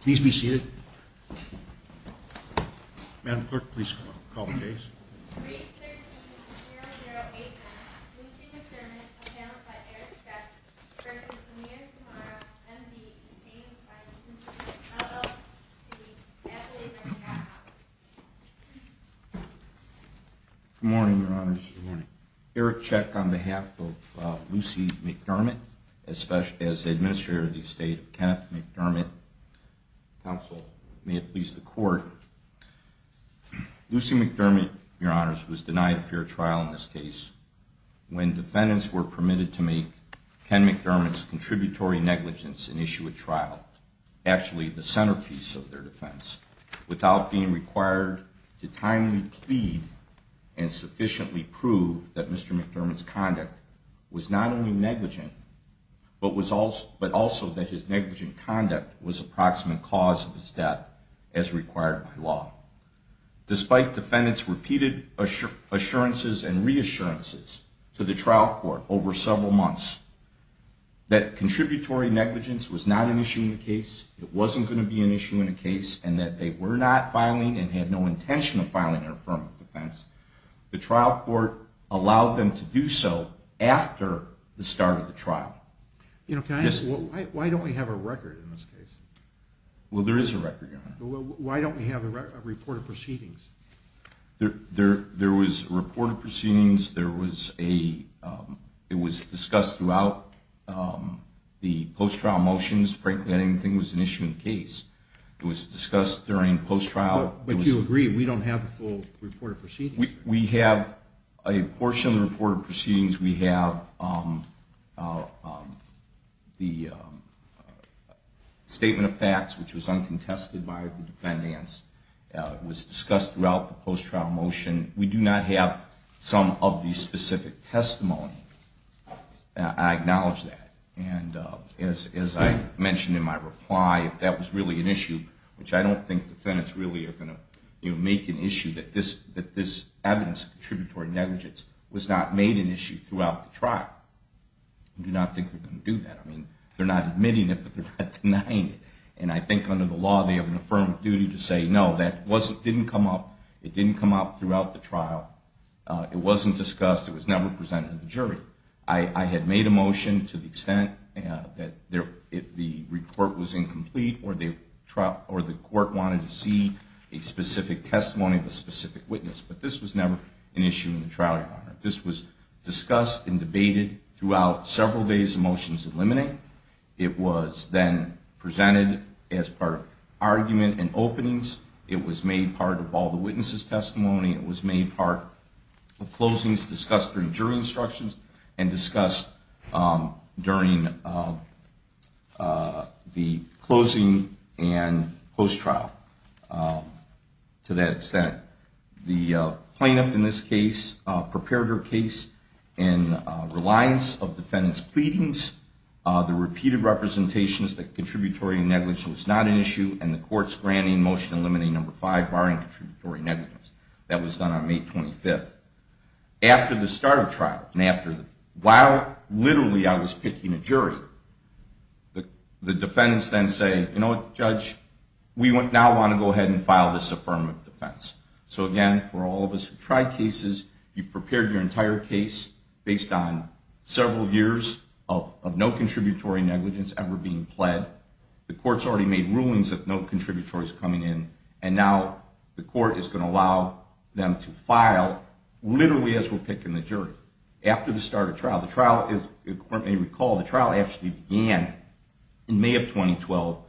please be seated. Madam Clerk, please call the case. Good morning, Your Honors. Eric check on behalf of Lucy McDermott, especially as the Administrator of the Estate of Kenneth McDermott. Counsel, may it please the Court. Lucy McDermott, Your Honors, was denied a fair trial in this case when defendants were permitted to make Ken McDermott's contributory negligence and issue a trial, actually the centerpiece of their defense, without being required to timely plead and sufficiently prove that Mr. McDermott's conduct was not only negligent, but also that his negligent conduct was approximate cause of his death as required by law. Despite defendants repeated assurances and reassurances to the trial court over several months that contributory negligence was not an issue in the case, it wasn't going to be an issue in the case, and that they were not filing and had no intention of filing their affirmative defense. The trial court allowed them to do so after the start of the trial. You know, can I ask, why don't we have a record in this case? Well, there is a record, Your Honor. Well, why don't we have a report of proceedings? There was a report of proceedings, there was a, it was discussed throughout the post-trial motions. Frankly, I don't think it was an issue in the case. It was discussed during post-trial. But you agree, we don't have the full report of proceedings. We have a portion of the report of proceedings. We have the statement of facts, which was uncontested by the defendants. It was discussed throughout the post-trial motion. We do not have some of the specific testimony. I acknowledge that. And as I mentioned in my reply, if that was really an issue, which I don't think defendants really are going to make an issue, that this evidence of contributory negligence was not made an issue throughout the trial, I do not think they're going to do that. I mean, they're not admitting it, but they're not denying it. And I think under the law, they have an affirmative duty to say, no, that didn't come up throughout the trial. It wasn't discussed. It was never presented to the jury. I had made a motion to the extent that the report was incomplete or the court wanted to see a specific testimony of a specific witness. But this was never an issue in the trial. This was discussed and debated throughout several days of motions to eliminate. It was then presented as part of argument and openings. It was made part of all the witnesses' testimony. It was made part of closings discussed during jury instructions and discussed during the closing and post-trial. To that extent, the plaintiff in this case prepared her case in reliance of defendant's pleadings, the repeated representations that contributory negligence was not an issue, and the court's granting motion eliminating number five barring contributory negligence. That was done on May 25th. After the start of trial, and while literally I was picking a jury, the defendants then say, you know what, Judge, we now want to go ahead and file this affirmative defense. So again, for all of us who've tried cases, you've prepared your entire case based on several years of no contributory negligence ever being pled. The court's already made rulings of no contributories coming in, and now the court is going to allow them to file literally as we're picking the jury. After the start of trial, the trial, if the court may recall, the trial actually began in May of 2012.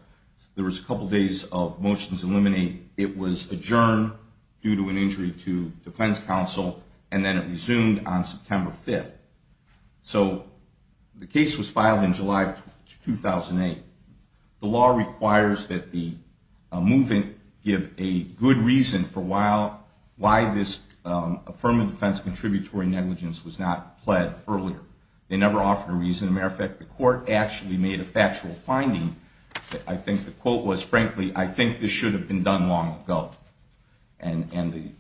There was a couple of days of motions to eliminate. It was adjourned due to an injury to defense counsel, and then it resumed on September 5th. So the case was filed in July 2008. The law requires that the move-in give a good reason for why this affirmative defense contributory negligence was not pled earlier. They never actually made a factual finding. I think the quote was, frankly, I think this should have been done long ago. And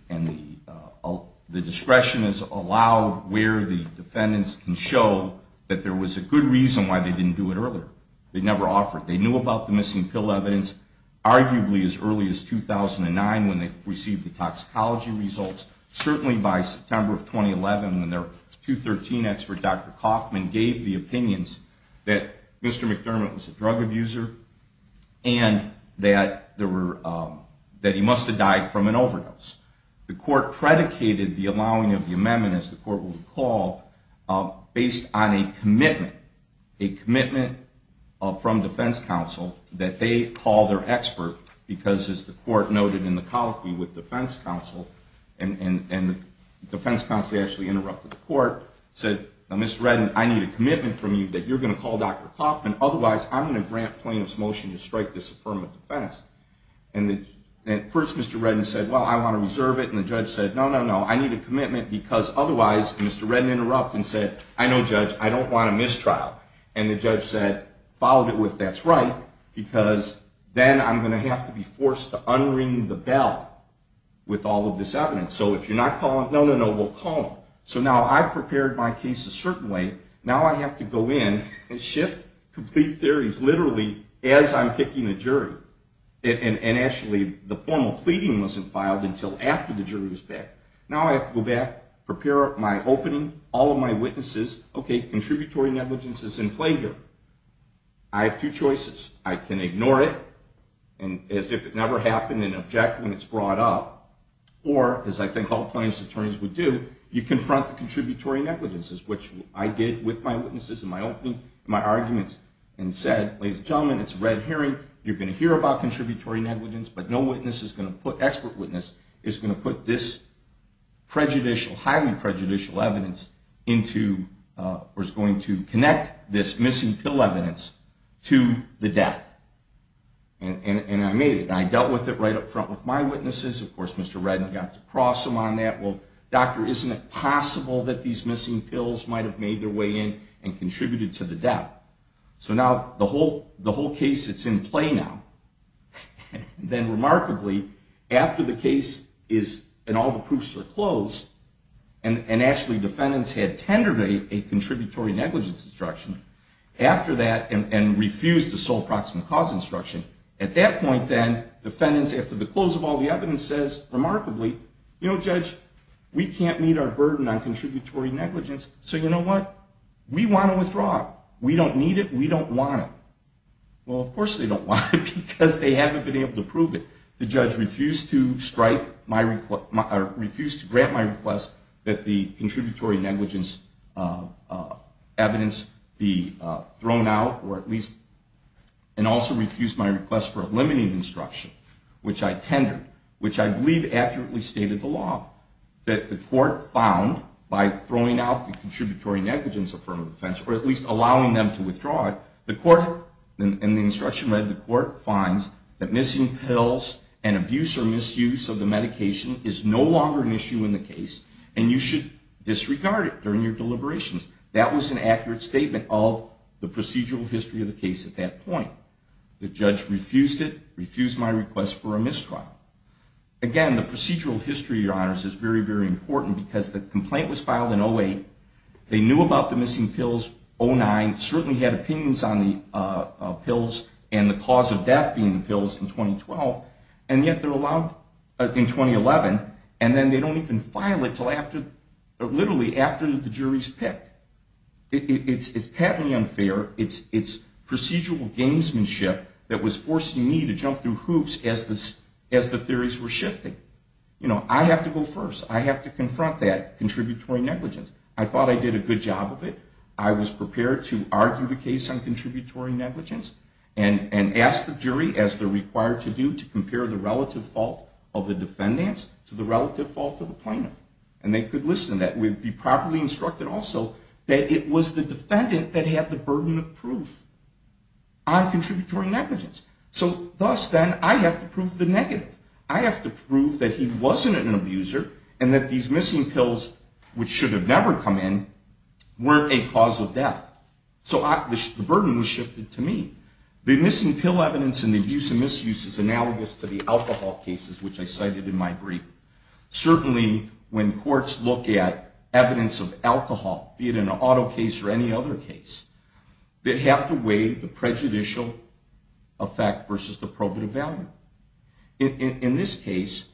the discretion is allowed where the defendants can show that there was a good reason why they didn't do it earlier. They never offered. They knew about the missing pill evidence arguably as early as 2009 when they received the toxicology results. Certainly by September of 2011 when their 213 expert, Dr. Kaufman, gave the opinions that Mr. McDermott was a drug abuser and that he must have died from an overdose. The court predicated the allowing of the amendment, as the court will recall, based on a commitment, a commitment from defense counsel that they call their expert because, as the court noted in the colloquy with defense counsel, and defense counsel actually interrupted the court, said, Mr. Reddin, I need a commitment from you that you're going to call Dr. Kaufman. Otherwise, I'm going to grant plaintiff's motion to strike this affirmative defense. And at first, Mr. Reddin said, well, I want to reserve it. And the judge said, no, no, no. I need a commitment because otherwise, Mr. Reddin interrupted and said, I know, judge. I don't want a mistrial. And the judge said, followed it with, that's right, because then I'm going to have to be forced to unring the bell with all of this evidence. So if you're not calling, no, no, no, we'll call him. So now I've prepared my case a certain way. Now I have to go in and shift complete theories, literally, as I'm picking a jury. And actually, the formal pleading wasn't filed until after the jury was picked. Now I have to go back, prepare my opening, all of my witnesses. OK, contributory negligence is in play here. I have two choices. I can ignore it, as if it never happened, and object when it's brought up. Or, as I think all plaintiffs' attorneys would do, you confront the contributory negligences, which I did with my witnesses in my opening, my arguments, and said, ladies and gentlemen, it's a red herring. You're going to hear about contributory negligence, but no witness is going to put, expert witness, is going to put this prejudicial, highly prejudicial evidence into, or is going to connect this missing pill evidence to the death. And I made it, and I dealt with it right up front with my witnesses. Of course, Mr. Redden got to cross him on that. Well, doctor, isn't it possible that these missing pills might have made their way in and contributed to the death? So now, the whole case, it's in play now. Then remarkably, after the case is, and all the proofs are closed, and actually defendants had tendered a contributory negligence instruction after that, and refused the sole proximate cause instruction, at that point then, defendants, after the close of all the evidence says, remarkably, you know, judge, we can't meet our burden on contributory negligence. So you know what? We want to withdraw it. We don't need it. We don't want it. Well, of course they don't want it, because they haven't been able to prove it. The judge refused to strike my request, or refused to grant my request, that the contributory negligence evidence be thrown out, or at least, and also refused my request for a limiting instruction, which I tendered, which I believe accurately stated the law, that the court found, by throwing out the contributory negligence affirmative defense, or at least allowing them to withdraw it, the court, in the instruction read, the court finds that missing pills and abuse or misuse of the medication is no longer an issue in the case, and you should disregard it during your deliberations. That was an accurate statement of the procedural history of the case at that point. The judge refused it, refused my request for a mistrial. Again, the procedural history, your honors, is very, very important, because the complaint was filed in 08. They knew about the missing pills, 09. Certainly had opinions on the pills, and the cause of death being the pills in 2012. And yet they're allowed in 2011, and then they don't even file it till after, literally after the jury's picked. It's patently unfair. It's procedural gamesmanship that was forcing me to jump through hoops as the theories were shifting. I have to go first. I have to confront that contributory negligence. I thought I did a good job of it. I was prepared to argue the case on contributory negligence, and ask the jury, as they're required to do, to compare the relative fault of the defendants to the relative fault of the plaintiff. And they could listen to that. We'd be properly instructed also that it was the defendant that had the burden of proof on contributory negligence. So thus, then, I have to prove the negative. I have to prove that he wasn't an abuser, and that these missing pills, which should have never come in, weren't a cause of death. So the burden was shifted to me. The missing pill evidence in the abuse and misuse is analogous to the alcohol cases, which I cited in my brief. Certainly, when courts look at evidence of alcohol, be it an auto case or any other case, they have to weigh the prejudicial effect versus the probative value. In this case,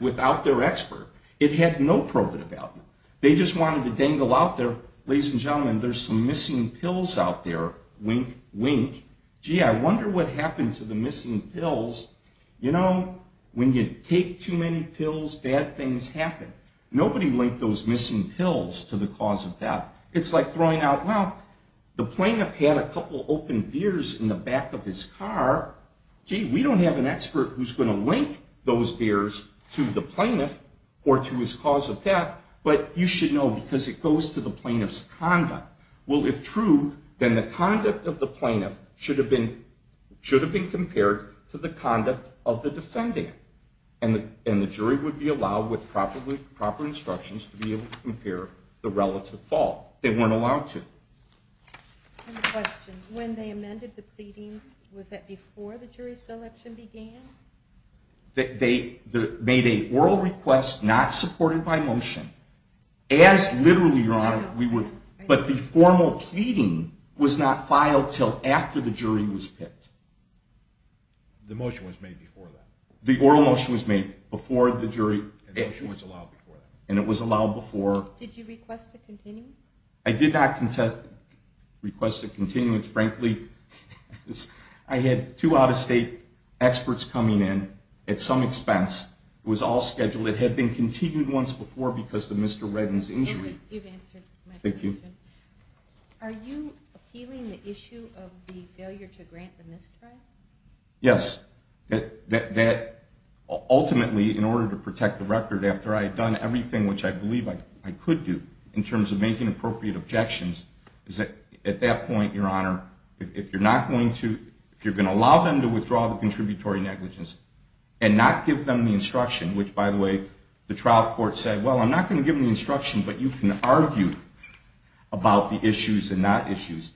without their expert, it had no probative value. They just wanted to dangle out there, ladies and gentlemen, there's some missing pills out there, wink, wink. Gee, I wonder what happened to the missing pills. You know, when you take too many pills, bad things happen. Nobody linked those missing pills to the cause of death. It's like throwing out, well, the plaintiff had a couple open beers in the back of his car. Gee, we don't have an expert who's going to link those beers to the plaintiff or to his cause of death. But you should know, because it goes to the plaintiff's conduct. Well, if true, then the conduct of the plaintiff should have been compared to the conduct of the defendant. And the jury would be allowed, with proper instructions, to be able to compare the relative fault. They weren't allowed to. I have a question. When they amended the pleadings, was that before the jury selection began? They made an oral request not supported by motion, as literally, Your Honor, we would. But the formal pleading was not filed till after the jury was picked. The motion was made before that. The oral motion was made before the jury. The motion was allowed before that. And it was allowed before. Did you request a continuance? I did not request a continuance, frankly. I had two out-of-state experts coming in at some expense. It was all scheduled. It had been continued once before because of Mr. Redden's injury. You've answered my question. Thank you. Are you appealing the issue of the failure to grant the misdrive? Yes. That, ultimately, in order to protect the record after I had done everything which I believe I could do, in terms of making appropriate objections, is that, at that point, Your Honor, if you're going to allow them to withdraw the contributory negligence and not give them the instruction, which, by the way, the trial court said, well, I'm not going to give them the instruction, but you can argue about the issues and not issues,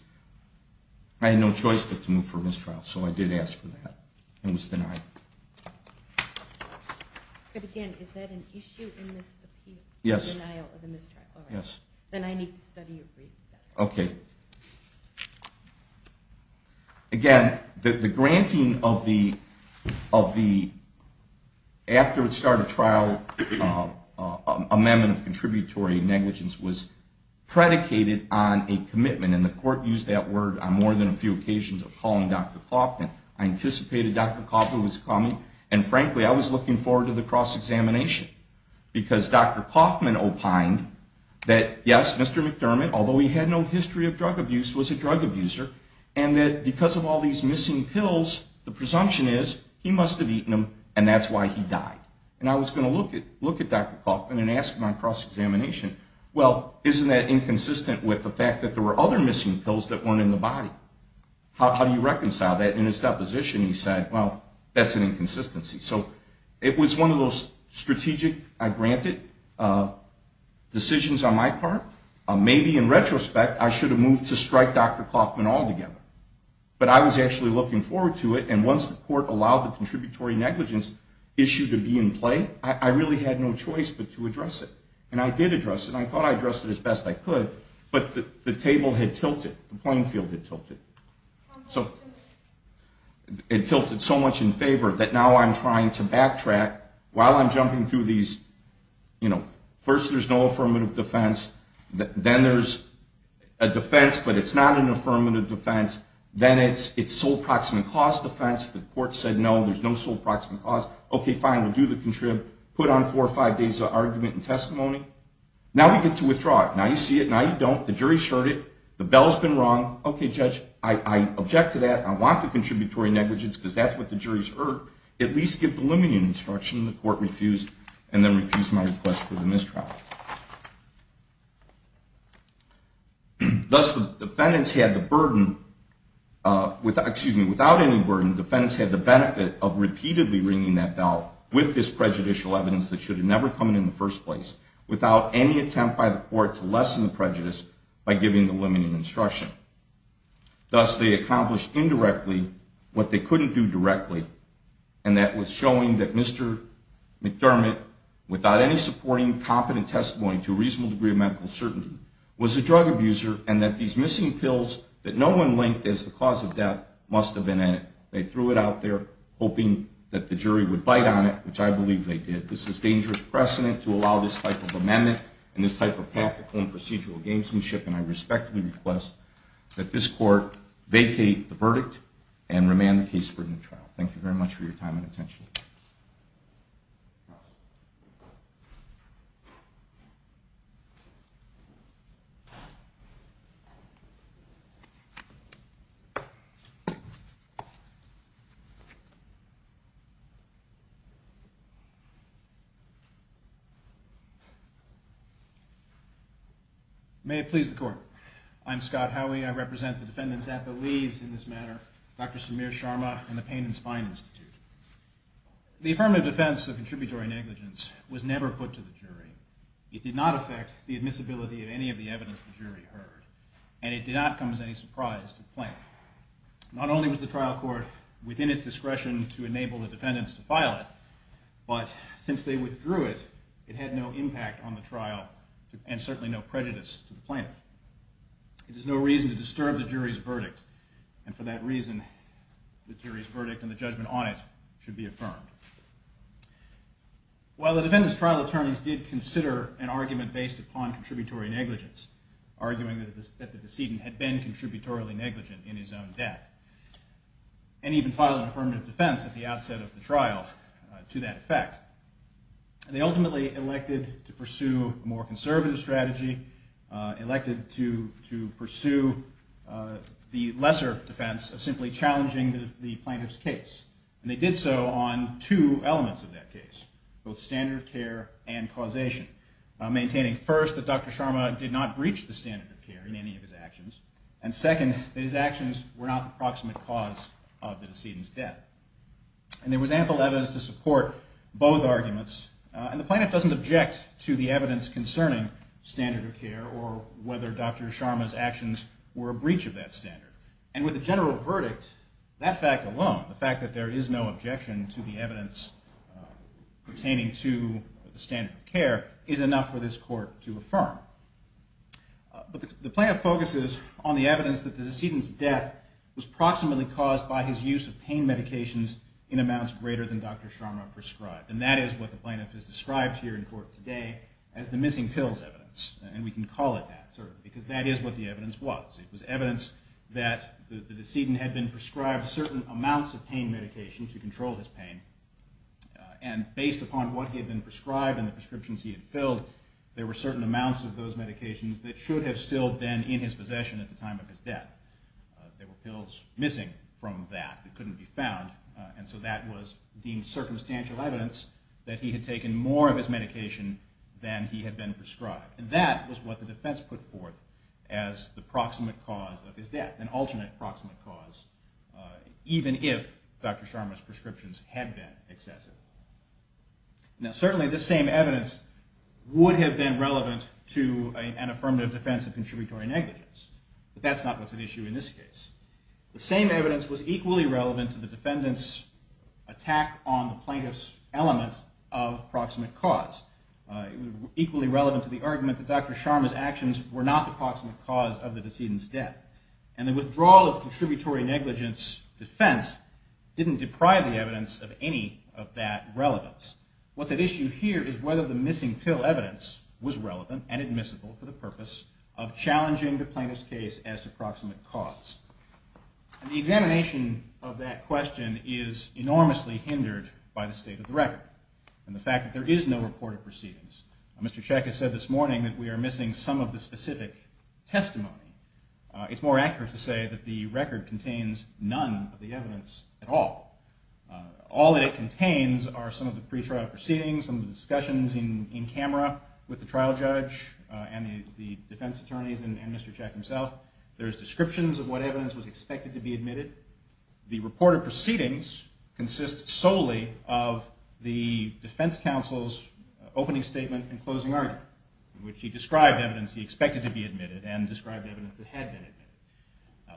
I had no choice but to move for a mistrial. So I did ask for that and was denied. But, again, is that an issue in this appeal? Yes. Denial of a mistrial. Yes. Then I need to study your brief. OK. Again, the granting of the, after it started trial, amendment of contributory negligence was predicated on a commitment. And the court used that word on more than a few occasions of calling Dr. Coffman. I anticipated Dr. Coffman was coming. And, frankly, I was looking forward to the cross-examination because Dr. Coffman opined that, yes, Mr. McDermott, although he had no history of drug abuse, was a drug abuser, and that because of all these missing pills, the presumption is he must have eaten them, and that's why he died. And I was going to look at Dr. Coffman and ask him on cross-examination, well, isn't that inconsistent with the fact that there were other missing pills that weren't in the body? How do you reconcile that? In his deposition, he said, well, that's an inconsistency. So it was one of those strategic, I granted, decisions on my part. Maybe in retrospect, I should have moved to strike Dr. Coffman altogether. But I was actually looking forward to it. And once the court allowed the contributory negligence issue to be in play, I really had no choice but to address it. And I did address it. I thought I addressed it as best I could. But the table had tilted. The playing field had tilted. So it tilted so much in favor that now I'm trying to backtrack while I'm jumping through these. First, there's no affirmative defense. Then there's a defense, but it's not an affirmative defense. Then it's sole proximate cause defense. The court said, no, there's no sole proximate cause. OK, fine, we'll do the contrib. Put on four or five days of argument and testimony. Now we get to withdraw it. Now you see it. Now you don't. The jury's heard it. The bell's been rung. OK, judge, I object to that. I want the contributory negligence because that's what the jury's heard. At least give the looming instruction. The court refused and then refused my request for the mistrial. Thus, the defendants had the burden. Excuse me, without any burden, the defendants had the benefit of repeatedly ringing that bell with this prejudicial evidence that should have never come in in the first place, without any attempt by the court to lessen the prejudice by giving the looming instruction. Thus, they accomplished indirectly what they couldn't do directly. And that was showing that Mr. McDermott, without any supporting competent testimony to a reasonable degree of medical certainty, was a drug abuser. And that these missing pills that no one linked as the cause of death must have been in it. They threw it out there, hoping that the jury would bite on it, which I believe they did. This is dangerous precedent to allow this type of amendment and this type of practical and procedural gamesmanship. And I respectfully request that this court vacate the verdict and remand the case for new trial. Thank you very much for your time and attention. May it please the court. I'm Scott Howey. I represent the defendants' apoes in this matter, Dr. Samir Sharma and the Pain and Spine Institute. The affirmative defense of contributory negligence was never put to the jury. It did not affect the admissibility of any of the evidence the jury heard. And it did not come as any surprise to the plaintiff. Not only was the trial court within its discretion to enable the defendants to file it, but since they withdrew it, it had no impact on the trial and certainly no prejudice to the plaintiff. It is no reason to disturb the jury's verdict. And for that reason, the jury's verdict and the judgment on it should be affirmed. While the defendants' trial attorneys did consider an argument based upon contributory negligence, arguing that the decedent had been contributorily negligent in his own death, and even filed an affirmative defense at the outset of the trial to that effect, they ultimately elected to pursue a more conservative strategy, elected to pursue the lesser defense of simply challenging the plaintiff's case. And they did so on two elements of that case, both standard of care and causation, maintaining first that Dr. Sharma did not breach the standard of care in any of his actions, and second, that his actions were not the proximate cause of the decedent's death. And there was ample evidence to support both arguments, and the plaintiff doesn't object to the evidence concerning standard of care or whether Dr. Sharma's actions were a breach of that standard. And with a general verdict, that fact alone, the fact that there is no objection to the evidence pertaining to the standard of care, is enough for this court to affirm. But the plaintiff focuses on the evidence that the decedent's death was proximately caused by his use of pain medications in amounts greater than Dr. Sharma prescribed. And that is what the plaintiff has described here in court today as the missing pills evidence. And we can call it that, certainly, because that is what the evidence was. It was evidence that the decedent had been prescribed certain amounts of pain medication to control his pain, and based upon what he had been prescribed and the prescriptions he had filled, there were certain amounts of those medications that should have still been in his possession at the time of his death. There were pills missing from that that couldn't be found, and so that was deemed circumstantial evidence that he had taken more of his medication than he had been prescribed. And that was what the defense put forth as the proximate cause of his death, an alternate proximate cause, even if Dr. Sharma's prescriptions had been excessive. Now, certainly, this same evidence would have been relevant to an affirmative defense of contributory negligence. But that's not what's at issue in this case. The same evidence was equally relevant to the defendant's attack on the plaintiff's element of proximate cause. It was equally relevant to the argument that Dr. Sharma's actions were not the proximate cause of the decedent's death. And the withdrawal of the contributory negligence defense didn't deprive the evidence of any of that relevance. What's at issue here is whether the missing pill evidence was relevant and admissible for the purpose of challenging the plaintiff's case as to proximate cause. And the examination of that question is enormously hindered by the state of the record and the fact that there is no report of proceedings. Mr. Cech has said this morning that we are missing some of the specific testimony. It's more accurate to say that the record contains none of the evidence at all. All that it contains are some of the pretrial proceedings, some of the discussions in camera with the trial judge and the defense attorneys and Mr. Cech himself. There's descriptions of what evidence was expected to be admitted. The report of proceedings consists solely of the defense counsel's opening statement and closing argument in which he described evidence he expected to be admitted and described evidence that had been admitted.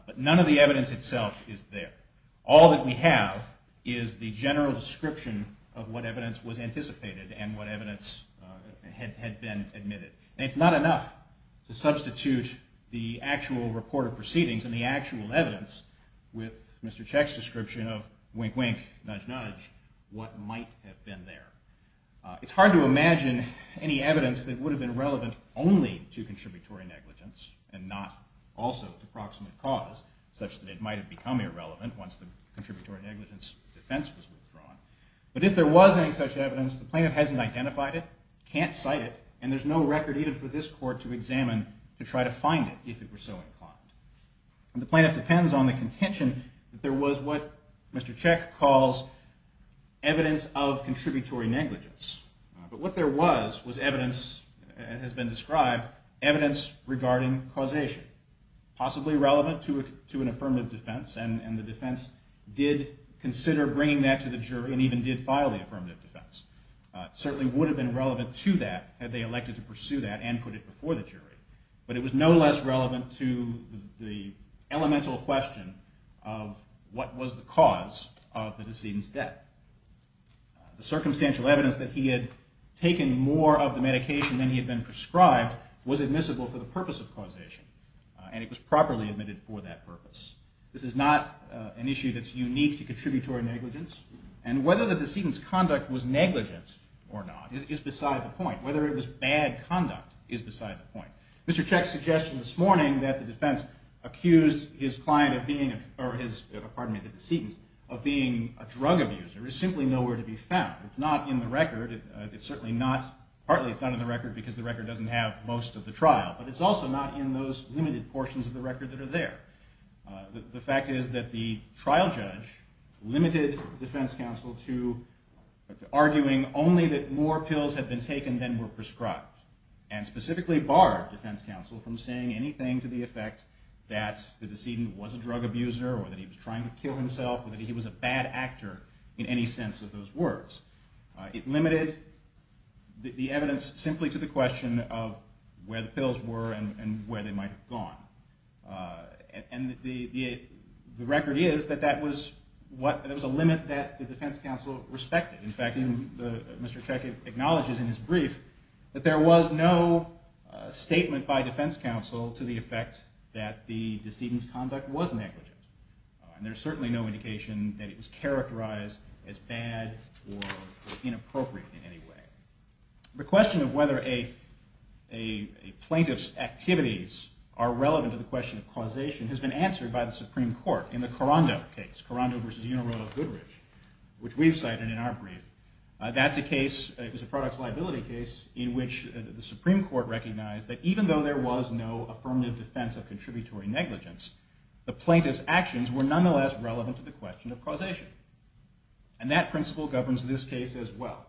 But none of the evidence itself is there. All that we have is the general description of what evidence was anticipated and what evidence had been admitted. And it's not enough to substitute the actual report of proceedings and the actual evidence with Mr. Cech's description of wink-wink, nudge-nudge, what might have been there. It's hard to imagine any evidence that would have been relevant only to contributory negligence and not also to proximate cause such that it might have become irrelevant once the contributory negligence defense was withdrawn. But if there was any such evidence, the plaintiff hasn't identified it, can't cite it, and there's no record even for this court to examine to try to find it if it were so inclined. And the plaintiff depends on the contention that there was what Mr. Cech calls evidence of contributory negligence. But what there was was evidence, as has been described, evidence regarding causation, possibly relevant to an affirmative defense, and the defense did consider bringing that to the jury and even did file the affirmative defense. It certainly would have been relevant to that had they elected to pursue that and put it before the jury, but it was no less relevant to the elemental question of what was the cause of the decedent's death. The circumstantial evidence that he had taken more of the medication than he had been prescribed was admissible for the purpose of causation, and it was properly admitted for that purpose. This is not an issue that's unique to contributory negligence, and whether the decedent's conduct was negligent or not is beside the point. Whether it was bad conduct is beside the point. Mr. Cech's suggestion this morning that the defense accused his client of being a... pardon me, the decedent, of being a drug abuser is simply nowhere to be found. It's not in the record. Partly it's not in the record because the record doesn't have most of the trial, but it's also not in those limited portions of the record that are there. The fact is that the trial judge limited the defense counsel to arguing only that more pills had been taken than were prescribed, and specifically barred defense counsel from saying anything to the effect that the decedent was a drug abuser or that he was trying to kill himself or that he was a bad actor in any sense of those words. It limited the evidence simply to the question of where the pills were and where they might have gone. And the record is that that was what... the defense counsel respected. In fact, Mr. Cech acknowledges in his brief that there was no statement by defense counsel to the effect that the decedent's conduct was negligent. And there's certainly no indication that it was characterized as bad or inappropriate in any way. The question of whether a plaintiff's activities are relevant to the question of causation has been answered by the Supreme Court in the Carando case, Carando v. Unarodo-Goodridge, which we've cited in our brief. That's a case, it was a products liability case, in which the Supreme Court recognized that even though there was no affirmative defense of contributory negligence, the plaintiff's actions were nonetheless relevant to the question of causation. And that principle governs this case as well.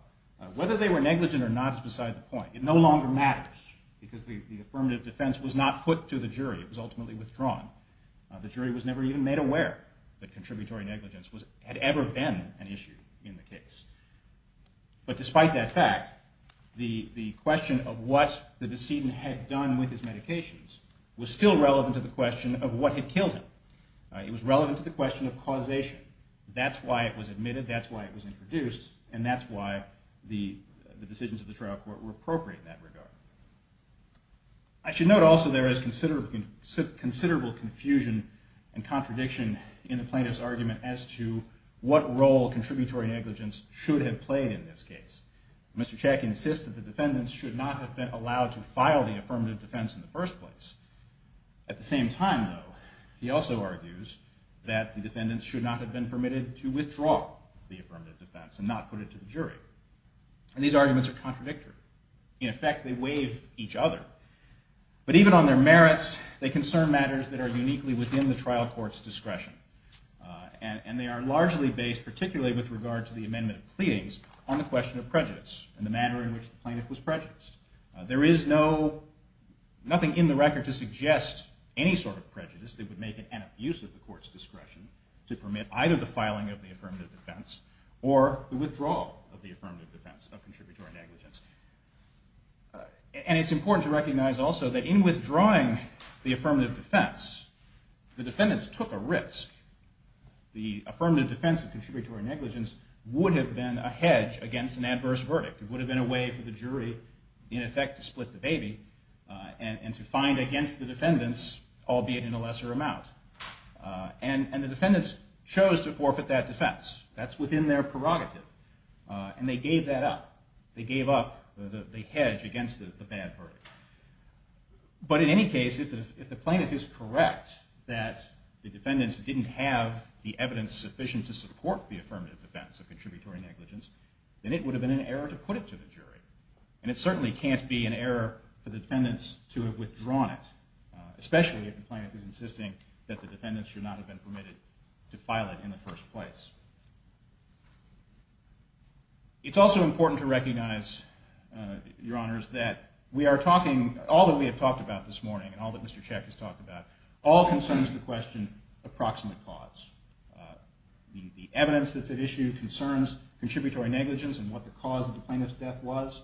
Whether they were negligent or not is beside the point. It no longer matters, because the affirmative defense was not put to the jury. It was ultimately withdrawn. The jury was never even made aware that contributory negligence had ever been an issue in the case. But despite that fact, the question of what the decedent had done with his medications was still relevant to the question of what had killed him. It was relevant to the question of causation. That's why it was admitted, that's why it was introduced, were appropriate in that regard. I should note also there is considerable confusion and contradiction in the plaintiff's argument as to what role contributory negligence should have played in this case. Mr. Chackie insists that the defendants should not have been allowed to file the affirmative defense in the first place. At the same time, though, he also argues that the defendants should not have been permitted to withdraw the affirmative defense and not put it to the jury. And these arguments are contradictory. In effect, they waive each other. But even on their merits, they concern matters that are uniquely within the trial court's discretion. And they are largely based, particularly with regard to the amendment of pleadings, on the question of prejudice and the manner in which the plaintiff was prejudiced. There is no... nothing in the record to suggest any sort of prejudice that would make it an abuse of the court's discretion to permit either the filing of the affirmative defense or the withdrawal of the affirmative defense of contributory negligence. And it's important to recognize also that in withdrawing the affirmative defense, the defendants took a risk. The affirmative defense of contributory negligence would have been a hedge against an adverse verdict. It would have been a way for the jury, in effect, to split the baby and to find against the defendants, albeit in a lesser amount. And the defendants chose to forfeit that defense. That's within their prerogative. And they gave that up. They gave up the hedge against the bad verdict. But in any case, if the plaintiff is correct that the defendants didn't have the evidence sufficient to support the affirmative defense of contributory negligence, then it would have been an error to put it to the jury. And it certainly can't be an error for the defendants to have withdrawn it, especially if the plaintiff is insisting that the defendants should not have been permitted to file it in the first place. It's also important to recognize, Your Honors, that we are talking... All that we have talked about this morning and all that Mr. Check has talked about, all concerns the question of proximate cause. The evidence that's at issue concerns contributory negligence and what the cause of the plaintiff's death was.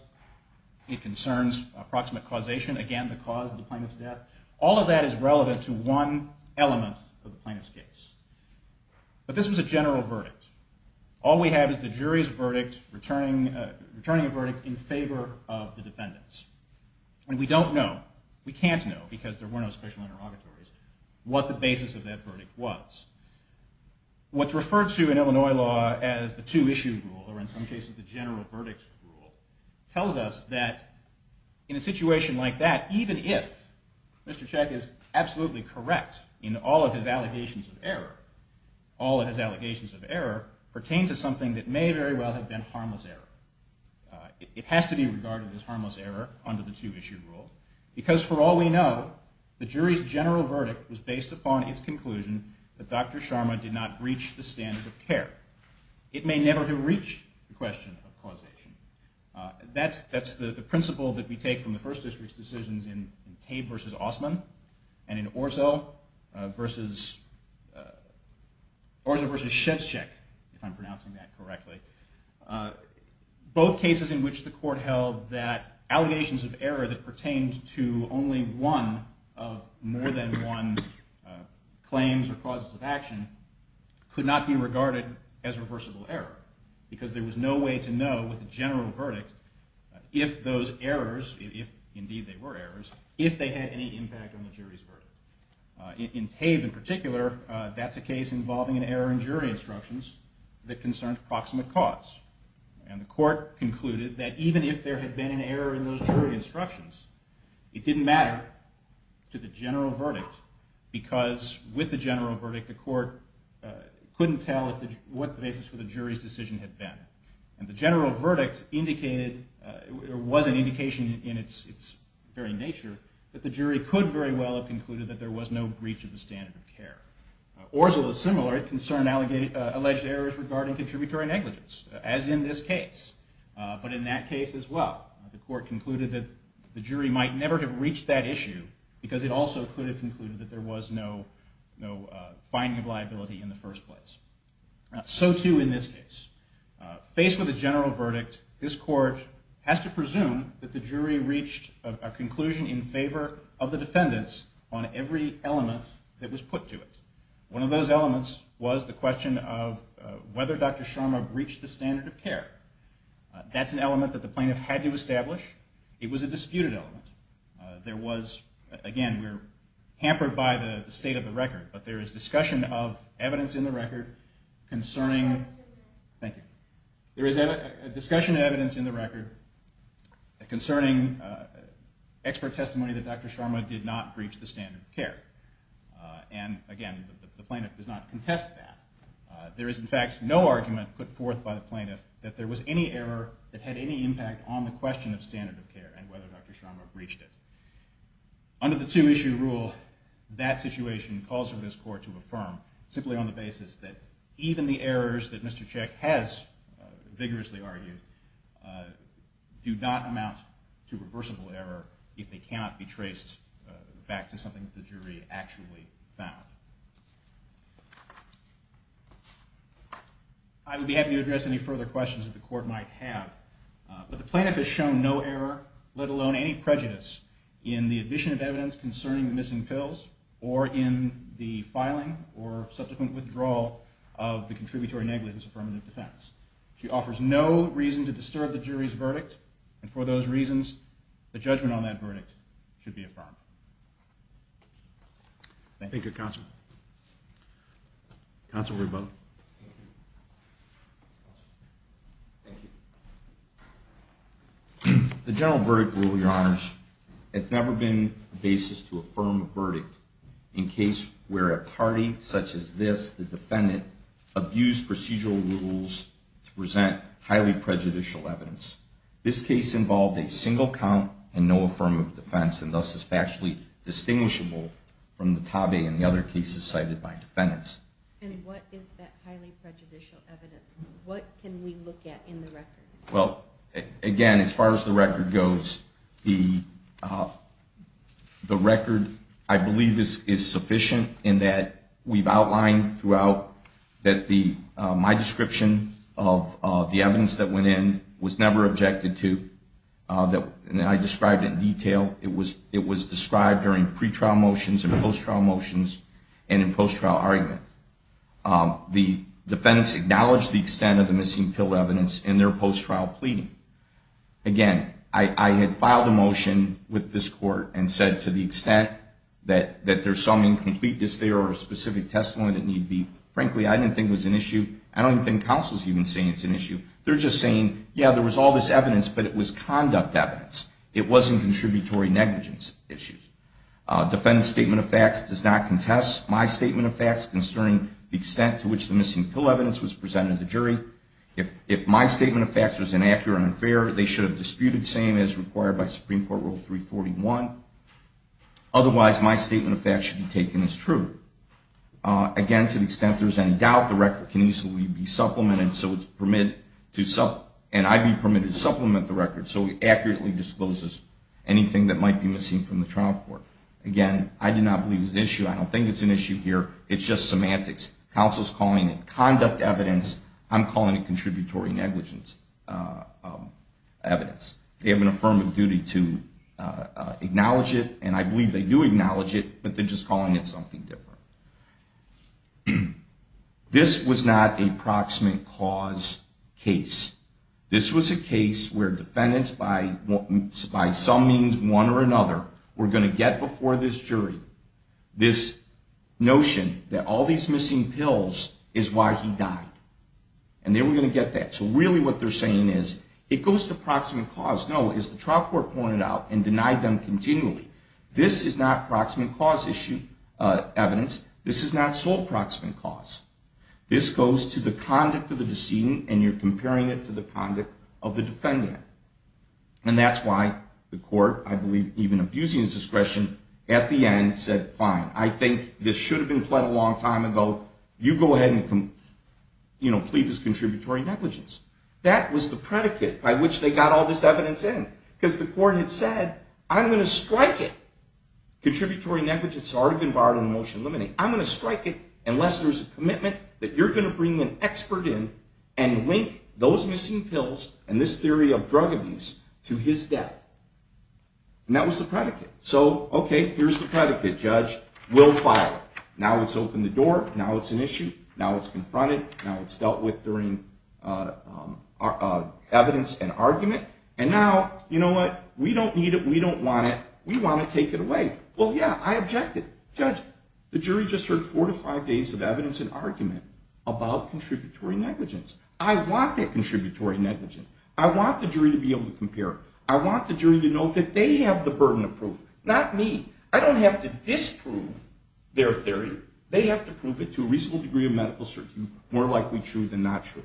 It concerns approximate causation, again, the cause of the plaintiff's death. All of that is relevant to one element of the plaintiff's case. But this was a general verdict. All we have is the jury's verdict returning a verdict in favor of the defendants. And we don't know, we can't know, because there were no special interrogatories, what the basis of that verdict was. What's referred to in Illinois law as the two-issue rule, or in some cases the general verdict rule, tells us that even if Mr. Check is absolutely correct in all of his allegations of error, all of his allegations of error pertain to something that may very well have been harmless error. It has to be regarded as harmless error under the two-issue rule, because for all we know, the jury's general verdict was based upon its conclusion that Dr. Sharma did not breach the standard of care. It may never have reached the question of causation. That's the principle that we take from the First District's decisions in Tabe v. Osmond and in Orso v. Orso v. Shevchik, if I'm pronouncing that correctly. Both cases in which the court held that allegations of error that pertained to only one of more than one claims or causes of action could not be regarded as reversible error, because there was no way to know with a general verdict if those errors, if indeed they were errors, if they had any impact on the jury's verdict. In Tabe in particular, that's a case involving an error in jury instructions that concerned proximate cause. And the court concluded that even if there had been an error in those jury instructions, it didn't matter to the general verdict, because with the general verdict, the court couldn't tell what the basis for the jury's decision had been. And the general verdict indicated, or was an indication in its very nature, that the jury could very well have concluded that there was no breach of the standard of care. Orso is similar. It concerned alleged errors regarding contributory negligence, as in this case. But in that case as well, the court concluded that the jury might never have reached that issue, because it also could have concluded that there was no finding of liability in the first place. So too in this case. Faced with a general verdict, this court has to presume that the jury reached a conclusion in favor of the defendants on every element that was put to it. One of those elements was the question of whether Dr. Sharma breached the standard of care. That's an element that the plaintiff had to establish. It was a disputed element. There was, again, we're hampered by the state of the record, but there is discussion of evidence in the record concerning... Thank you. There is discussion of evidence in the record concerning expert testimony that Dr. Sharma did not breach the standard of care. Again, the plaintiff does not contest that. There is, in fact, no argument put forth by the plaintiff that there was any error that had any impact on the question of standard of care and whether Dr. Sharma breached it. Under the two-issue rule, that situation calls for this court to affirm simply on the basis that even the errors that Mr. Cech has vigorously argued do not amount to reversible error if they cannot be traced back to something that the jury actually found. I would be happy to address any further questions that the court might have, but the plaintiff has shown no error, let alone any prejudice, in the addition of evidence concerning the missing pills or in the filing or subsequent withdrawal of the contributory negligence affirmative defense. She offers no reason to disturb the jury's verdict, and for those reasons, the judgment on that verdict should be affirmed. The general verdict rule, Your Honors, has never been the basis to affirm a verdict in case where a party such as this, the defendant, abused procedural rules to present highly prejudicial evidence. This case involved a single count and no affirmative defense, and thus is factually distinguishable from the TAVE and the other cases cited by defendants. And what is that highly prejudicial evidence? What can we look at in the record? Again, as far as the record goes, the TAVE is sufficient in that we've outlined throughout that my description of the evidence that went in was never objected to. I described it in detail. It was described during pretrial motions and post-trial motions and in post-trial argument. The defendants acknowledged the extent of the missing pill evidence in their post-trial pleading. Again, I had filed a motion with this Court and said to the extent that there's some incompleteness there or a specific testimony that need be, frankly, I didn't think it was an issue. I don't even think counsel's even saying it's an issue. They're just saying, yeah, there was all this evidence, but it was conduct evidence. It wasn't contributory negligence issues. Defendant's statement of facts does not contest my statement of facts concerning the extent to which the missing pill evidence was presented to jury. If my statement of facts was inaccurate or unfair, they should have disputed the same as required by Supreme Court Rule 341. Otherwise, my statement of facts should be taken as true. Again, to the extent there's any doubt, the record can easily be supplemented, and I'd be permitted to supplement the record so it accurately disposes anything that might be missing from the trial court. Again, I do not believe it's an issue. I don't think it's an issue here. It's just semantics. Counsel's calling it conduct evidence. I'm calling it contributory negligence evidence. They have an affirmative duty to acknowledge it, and I believe they do acknowledge it, but they're just calling it something different. This was not a proximate cause case. This was a case where defendants by some means, one or another, were going to get before this jury this notion that all these missing pills is why he died. They were going to get that. Really what they're saying is, it goes to proximate cause. No, as the trial court pointed out, and denied them continually, this is not proximate cause evidence. This is not sole proximate cause. This goes to the conduct of the decedent, and you're comparing it to the conduct of the defendant. That's why the court, I believe, even abusing the discretion, at the end said, fine, I think this should have been pled a long time ago. You go ahead and plead this contributory negligence. That was the predicate by which they got all this evidence in, because the court had said, I'm going to strike it. Contributory negligence had already been barred under Motion to Eliminate. I'm going to strike it unless there's a commitment that you're going to bring an expert in and link those missing pills and this theory of drug abuse to his death. That was the predicate. Here's the predicate. Judge will file it. Now it's opened the door. Now it's an issue. Now it's confronted. Now it's dealt with during evidence and argument. And now, you know what? We don't need it. We don't want it. We want to take it away. Well, yeah, I object it. Judge, the jury just heard four to five days of evidence and argument about contributory negligence. I want that contributory negligence. I want the jury to be able to compare it. I want the jury to know that they have the burden of proof, not me. I don't have to disprove their theory. They have to prove it to a reasonable degree of medical certainty, more likely true than not true.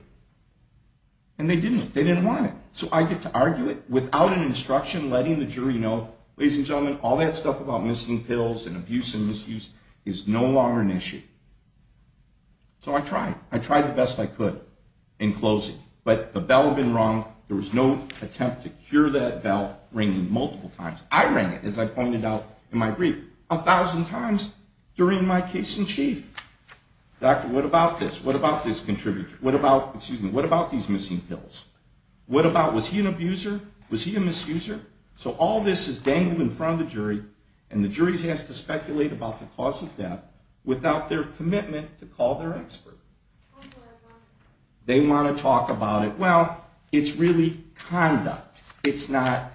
And they didn't. They didn't want it. So I get to argue it without an instruction, letting the jury know, ladies and gentlemen, all that stuff about missing pills and abuse and misuse is no longer an issue. So I tried. I tried the best I could in closing. But the bell had been rung. There was no attempt to cure that bell ringing multiple times. I rang it as I pointed out in my brief a thousand times during my case in chief. Doctor, what about this? What about this contributor? What about these missing pills? What about, was he an abuser? Was he a misuser? So all this is dangling in front of the jury and the jury has to speculate about the cause of death without their commitment to call their expert. They want to talk about it. Well, it's really conduct. It's not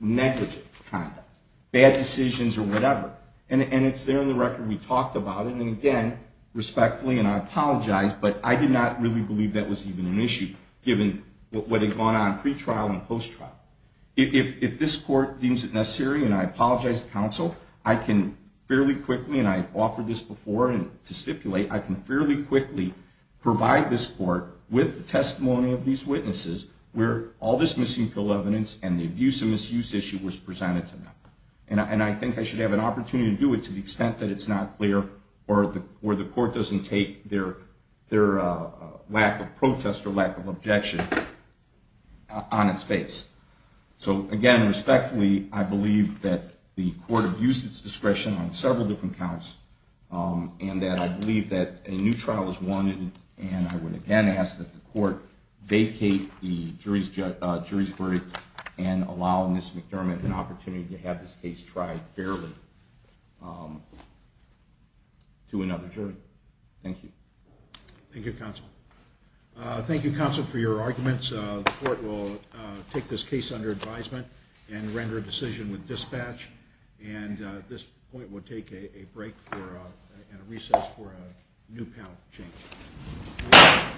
negligent conduct. Bad decisions or whatever. And it's there in the record. We talked about it, and again, respectfully, and I apologize, but I did not really believe that was even an issue, given what had gone on pre-trial and post-trial. If this court deems it necessary, and I apologize to counsel, I can fairly quickly and I've offered this before to stipulate, I can fairly quickly provide this court with the testimony of these witnesses where all this missing pill evidence and the abuse and misuse issue was presented to them. And I think I should have an opportunity to do it to the extent that it's not clear or the court doesn't take their lack of protest or lack of objection on its face. So again, respectfully, I believe that the court abused its discretion on several different counts, and that I believe that a new trial is wanted and I would again ask that the court vacate the jury's jury's court and allow Ms. McDermott an opportunity to have this case tried fairly to another jury. Thank you. Thank you, counsel. Thank you, counsel, for your arguments. The court will take this case under advisement and render a decision with dispatch, and at this point we'll take a break and a recess for a new panel change.